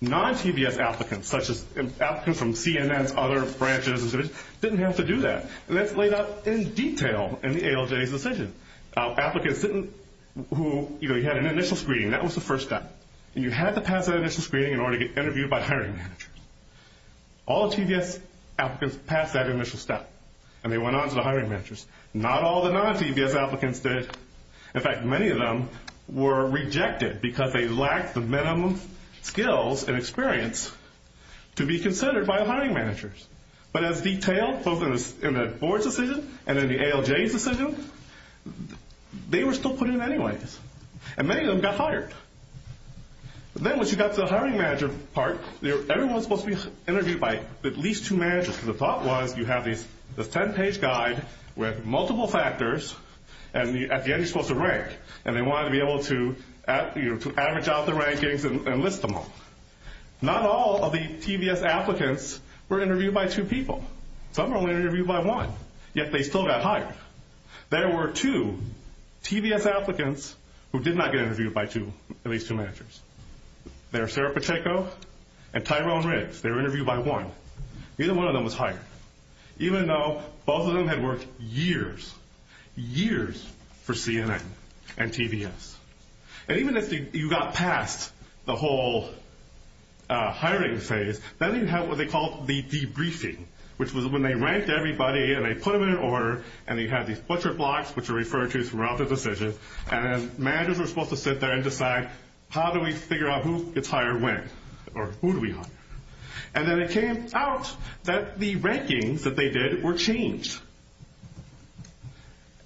Non-TVS applicants, such as applicants from CNN's other branches, didn't have to do that. And that's laid out in detail in the ALJ's decision. Applicants who had an initial screening, that was the first step. And you had to pass that initial screening in order to get interviewed by hiring managers. All the TVS applicants passed that initial step and they went on to the hiring managers. Not all the non-TVS applicants did. In fact, many of them were rejected because they lacked the minimum skills and experience to be considered by hiring managers. But as detailed both in the board's decision and in the ALJ's decision, they were still put in anyways. And many of them got hired. Then once you got to the hiring manager part, everyone was supposed to be interviewed by at least two managers. The thought was you have this 10-page guide with multiple factors and at the end you're supposed to rank. And they wanted to be able to average out the rankings and list them all. Not all of the TVS applicants were interviewed by two people. Some were only interviewed by one. Yet they still got hired. There were two TVS applicants who did not get interviewed by at least two managers. They were Sarah Pacheco and Tyrone Riggs. They were interviewed by one. Neither one of them was hired. Even though both of them had worked years, years for CNN and TVS. And even if you got past the whole hiring phase, then you have what they call the debriefing, which was when they ranked everybody and they put them in order and they had these butcher blocks, which are referred to throughout the decision, and managers were supposed to sit there and decide how do we figure out who gets hired when or who do we hire. And then it came out that the rankings that they did were changed.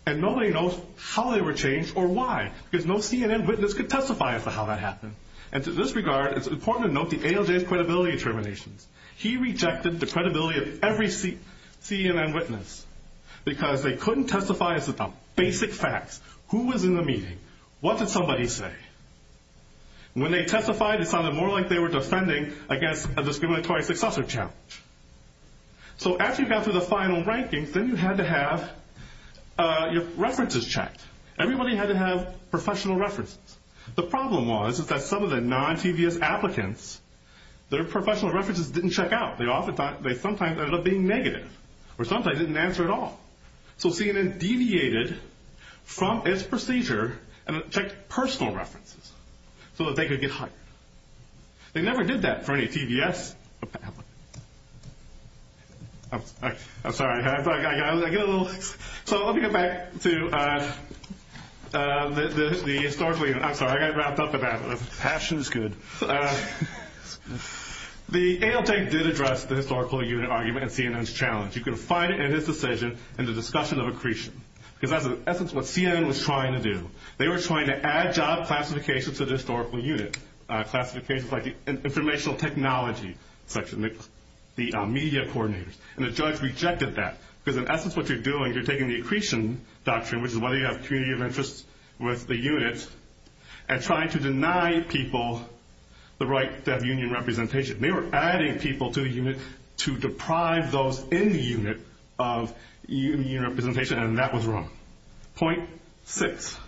And nobody knows how they were changed or why. Because no CNN witness could testify as to how that happened. And to this regard, it's important to note the ALJ's credibility determinations. He rejected the credibility of every CNN witness because they couldn't testify as to the basic facts. Who was in the meeting? What did somebody say? When they testified, it sounded more like they were defending against a discriminatory successor challenge. So after you got through the final rankings, then you had to have your references checked. Everybody had to have professional references. The problem was that some of the non-TVS applicants, their professional references didn't check out. They sometimes ended up being negative. Or sometimes they didn't answer at all. So CNN deviated from its procedure and checked personal references so that they could get hired. They never did that for any TVS applicant. I'm sorry. I got a little... So let me get back to the historically... I'm sorry. I got wrapped up in that. Passion's good. The ALJ did address the historical unit argument and CNN's challenge. You can find it in his decision in the discussion of accretion because that's, in essence, what CNN was trying to do. They were trying to add job classifications to the historical unit, classifications like the informational technology section, the media coordinators. And the judge rejected that because, in essence, what you're doing, you're taking the accretion doctrine, which is whether you have community of interest with the unit, and trying to deny people the right to have union representation. They were adding people to the unit to deprive those in the unit of union representation, and that was wrong. Point six.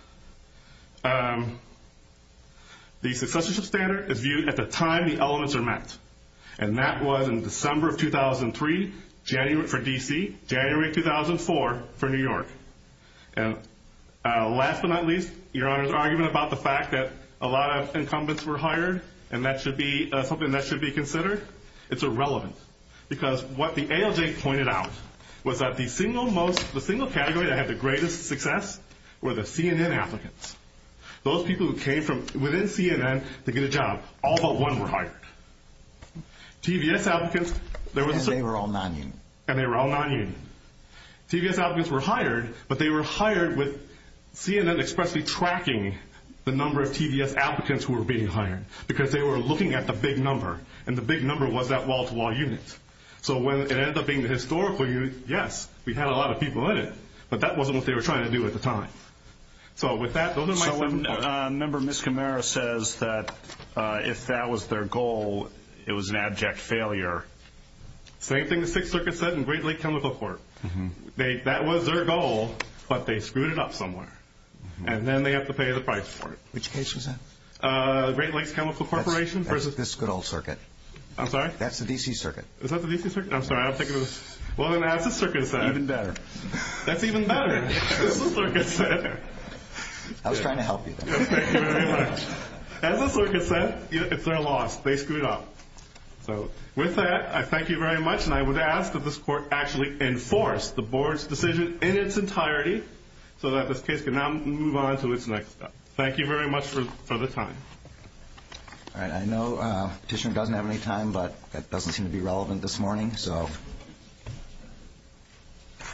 The successorship standard is viewed at the time the elements are met. And that was in December of 2003 for D.C., January of 2004 for New York. And last but not least, your Honor's argument about the fact that a lot of incumbents were hired, and that should be something that should be considered, it's irrelevant. Because what the ALJ pointed out was that the single category that had the greatest success were the CNN applicants. Those people who came within CNN to get a job, all but one were hired. TVS applicants, there was a... And they were all non-union. And they were all non-union. TVS applicants were hired, but they were hired with CNN expressly tracking the number of TVS applicants who were being hired, because they were looking at the big number, and the big number was that wall-to-wall unit. So when it ended up being the historical unit, yes, we had a lot of people in it, but that wasn't what they were trying to do at the time. So with that, those are my seven points. So Member Miscamara says that if that was their goal, it was an abject failure. Same thing the Sixth Circuit said in Great Lake Chemical Court. That was their goal, but they screwed it up somewhere. And then they have to pay the price for it. Which case was that? Great Lakes Chemical Corporation. That's this good old circuit. I'm sorry? That's the D.C. Circuit. Is that the D.C. Circuit? I'm sorry, I was thinking of... Well, then, that's what the circuit said. Even better. That's even better. That's what the circuit said. I was trying to help you there. Thank you very much. That's what the circuit said. It's their loss. They screwed up. So with that, I thank you very much, and I would ask that this court actually enforce the board's decision in its entirety so that this case can now move on to its next step. Thank you very much for the time. All right. I know Petitioner doesn't have any time, but that doesn't seem to be relevant this morning. So the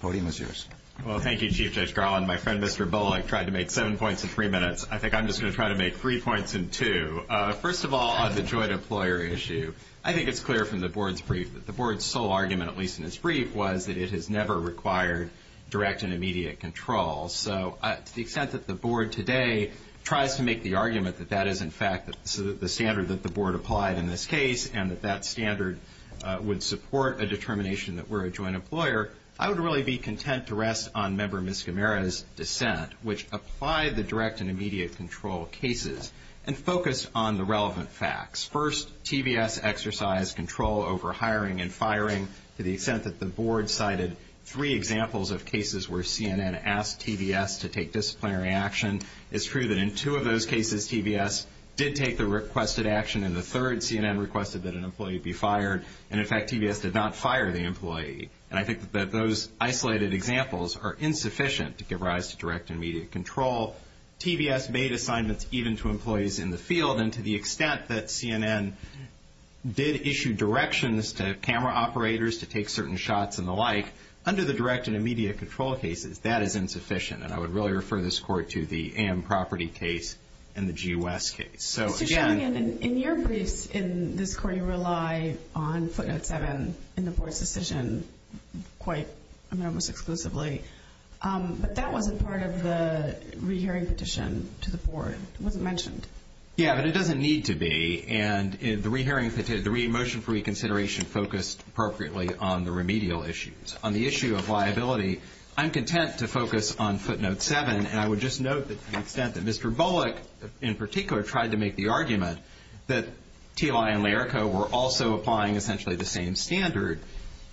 podium is yours. Well, thank you, Chief Judge Garland. My friend, Mr. Bullock, tried to make 7 points in 3 minutes. I think I'm just going to try to make 3 points in 2. First of all, on the joint employer issue, I think it's clear from the board's brief that the board's sole argument, at least in its brief, was that it has never required direct and immediate control. So to the extent that the board today tries to make the argument that that is, in fact, the standard that the board applied in this case and that that standard would support a determination that we're a joint employer, I would really be content to rest on Member Miscimera's dissent, which applied the direct and immediate control cases and focused on the relevant facts. First, TVS exercised control over hiring and firing to the extent that the board cited 3 examples of cases where CNN asked TVS to take disciplinary action. It's true that in 2 of those cases, TVS did take the requested action, and the third, CNN requested that an employee be fired, and, in fact, TVS did not fire the employee. And I think that those isolated examples are insufficient to give rise to direct and immediate control. TVS made assignments even to employees in the field, and to the extent that CNN did issue directions to camera operators to take certain shots and the like, under the direct and immediate control cases, that is insufficient, and I would really refer this Court to the AM Property case and the G. West case. So, again... Mr. Shanahan, in your briefs in this Court, you rely on footnote 7 in the board's decision quite, I mean, almost exclusively, but that wasn't part of the rehearing petition to the board. It wasn't mentioned. Yeah, but it doesn't need to be, and the motion for reconsideration focused appropriately on the remedial issues. On the issue of liability, I'm content to focus on footnote 7, and I would just note that to the extent that Mr. Bullock, in particular, tried to make the argument that TLI and Larico were also applying essentially the same standard,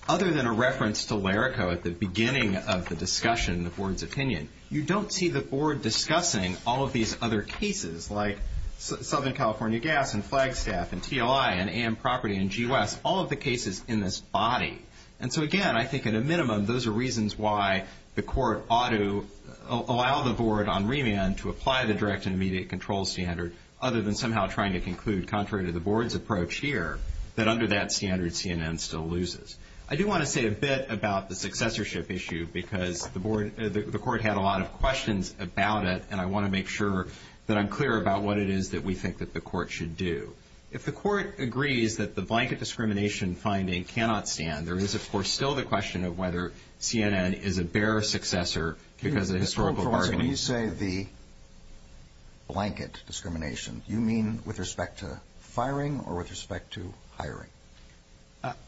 other than a reference to Larico at the beginning of the discussion in the board's opinion, you don't see the board discussing all of these other cases, like Southern California Gas and Flagstaff and TLI and AM Property and G. West, all of the cases in this body. And so, again, I think at a minimum, those are reasons why the court ought to allow the board on remand to apply the direct and immediate control standard, other than somehow trying to conclude, contrary to the board's approach here, that under that standard CNN still loses. I do want to say a bit about the successorship issue because the court had a lot of questions about it, and I want to make sure that I'm clear about what it is that we think that the court should do. If the court agrees that the blanket discrimination finding cannot stand, there is, of course, still the question of whether CNN is a bare successor because of historical bargaining. When you say the blanket discrimination, you mean with respect to firing or with respect to hiring?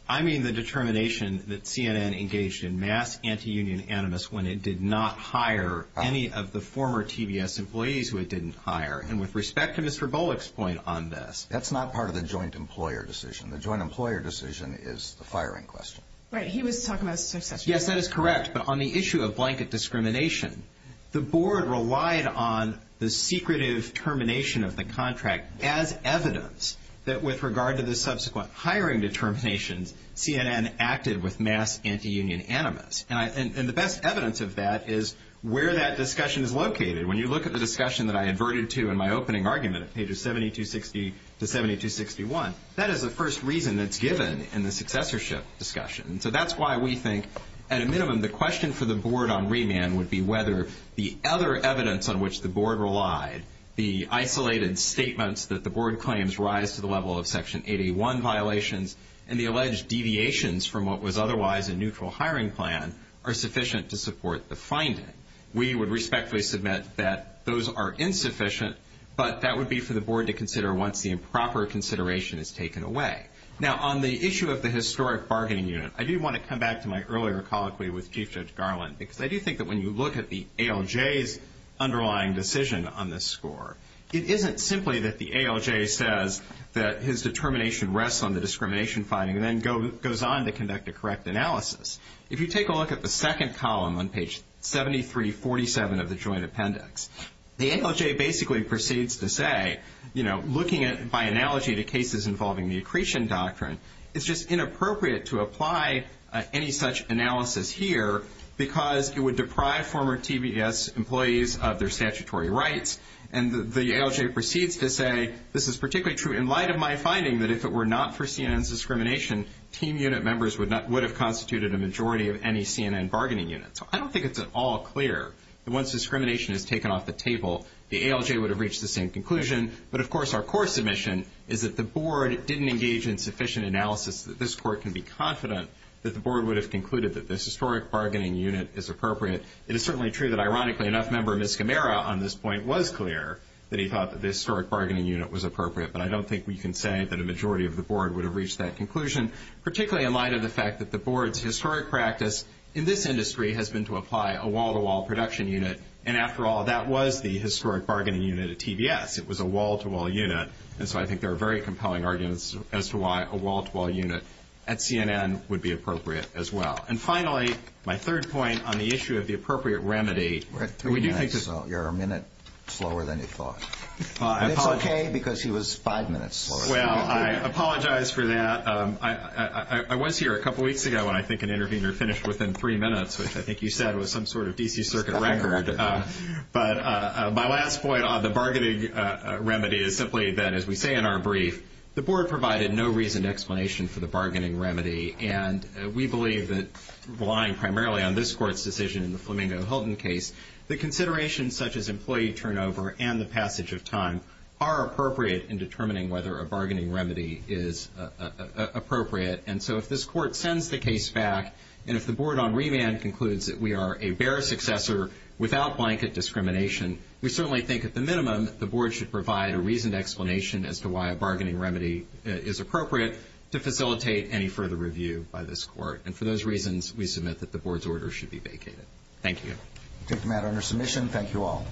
I mean the determination that CNN engaged in mass anti-union animus when it did not hire any of the former TBS employees who it didn't hire. And with respect to Mr. Bullock's point on this, that's not part of the joint employer decision. The joint employer decision is the firing question. Right. He was talking about successorship. Yes, that is correct. But on the issue of blanket discrimination, the board relied on the secretive termination of the contract as evidence that with regard to the subsequent hiring determinations, CNN acted with mass anti-union animus. And the best evidence of that is where that discussion is located. When you look at the discussion that I adverted to in my opening argument at pages 7260 to 7261, that is the first reason that's given in the successorship discussion. So that's why we think, at a minimum, the question for the board on remand would be whether the other evidence on which the board relied, the isolated statements that the board claims rise to the level of Section 8A1 violations and the alleged deviations from what was otherwise a neutral hiring plan, are sufficient to support the finding. We would respectfully submit that those are insufficient, but that would be for the board to consider once the improper consideration is taken away. Now, on the issue of the historic bargaining unit, I do want to come back to my earlier colloquy with Chief Judge Garland because I do think that when you look at the ALJ's underlying decision on this score, it isn't simply that the ALJ says that his determination rests on the discrimination finding and then goes on to conduct a correct analysis. If you take a look at the second column on page 7347 of the Joint Appendix, the ALJ basically proceeds to say, you know, looking at by analogy the cases involving the accretion doctrine, it's just inappropriate to apply any such analysis here because it would deprive former TBS employees of their statutory rights and the ALJ proceeds to say this is particularly true in light of my finding that if it were not for CNN's discrimination, team unit members would have constituted a majority of any CNN bargaining unit. So I don't think it's at all clear that once discrimination is taken off the table, the ALJ would have reached the same conclusion, but of course our core submission is that the board didn't engage in sufficient analysis that this court can be confident that the board would have concluded that this historic bargaining unit is appropriate. It is certainly true that, ironically, enough member of Ms. Camara on this point was clear that he thought that the historic bargaining unit was appropriate, but I don't think we can say that a majority of the board would have reached that conclusion, particularly in light of the fact that the board's historic practice in this industry has been to apply a wall-to-wall production unit, and after all that was the historic bargaining unit at TBS. It was a wall-to-wall unit, and so I think there are very compelling arguments as to why a wall-to-wall unit at CNN would be appropriate as well. And finally, my third point on the issue of the appropriate remedy. We're at three minutes, so you're a minute slower than you thought. And it's okay because he was five minutes slower. Well, I apologize for that. I was here a couple weeks ago when I think an interviewer finished within three minutes, which I think you said was some sort of D.C. Circuit record. But my last point on the bargaining remedy is simply that, as we say in our brief, the board provided no reasoned explanation for the bargaining remedy, and we believe that relying primarily on this court's decision in the Flamingo-Hilton case, the considerations such as employee turnover and the passage of time are appropriate in determining whether a bargaining remedy is appropriate. And so if this court sends the case back, and if the board on remand concludes that we are a bare successor without blanket discrimination, we certainly think at the minimum the board should provide a reasoned explanation as to why a bargaining remedy is appropriate to facilitate any further review by this court. And for those reasons, we submit that the board's order should be vacated. Thank you. We take the matter under submission. Thank you all.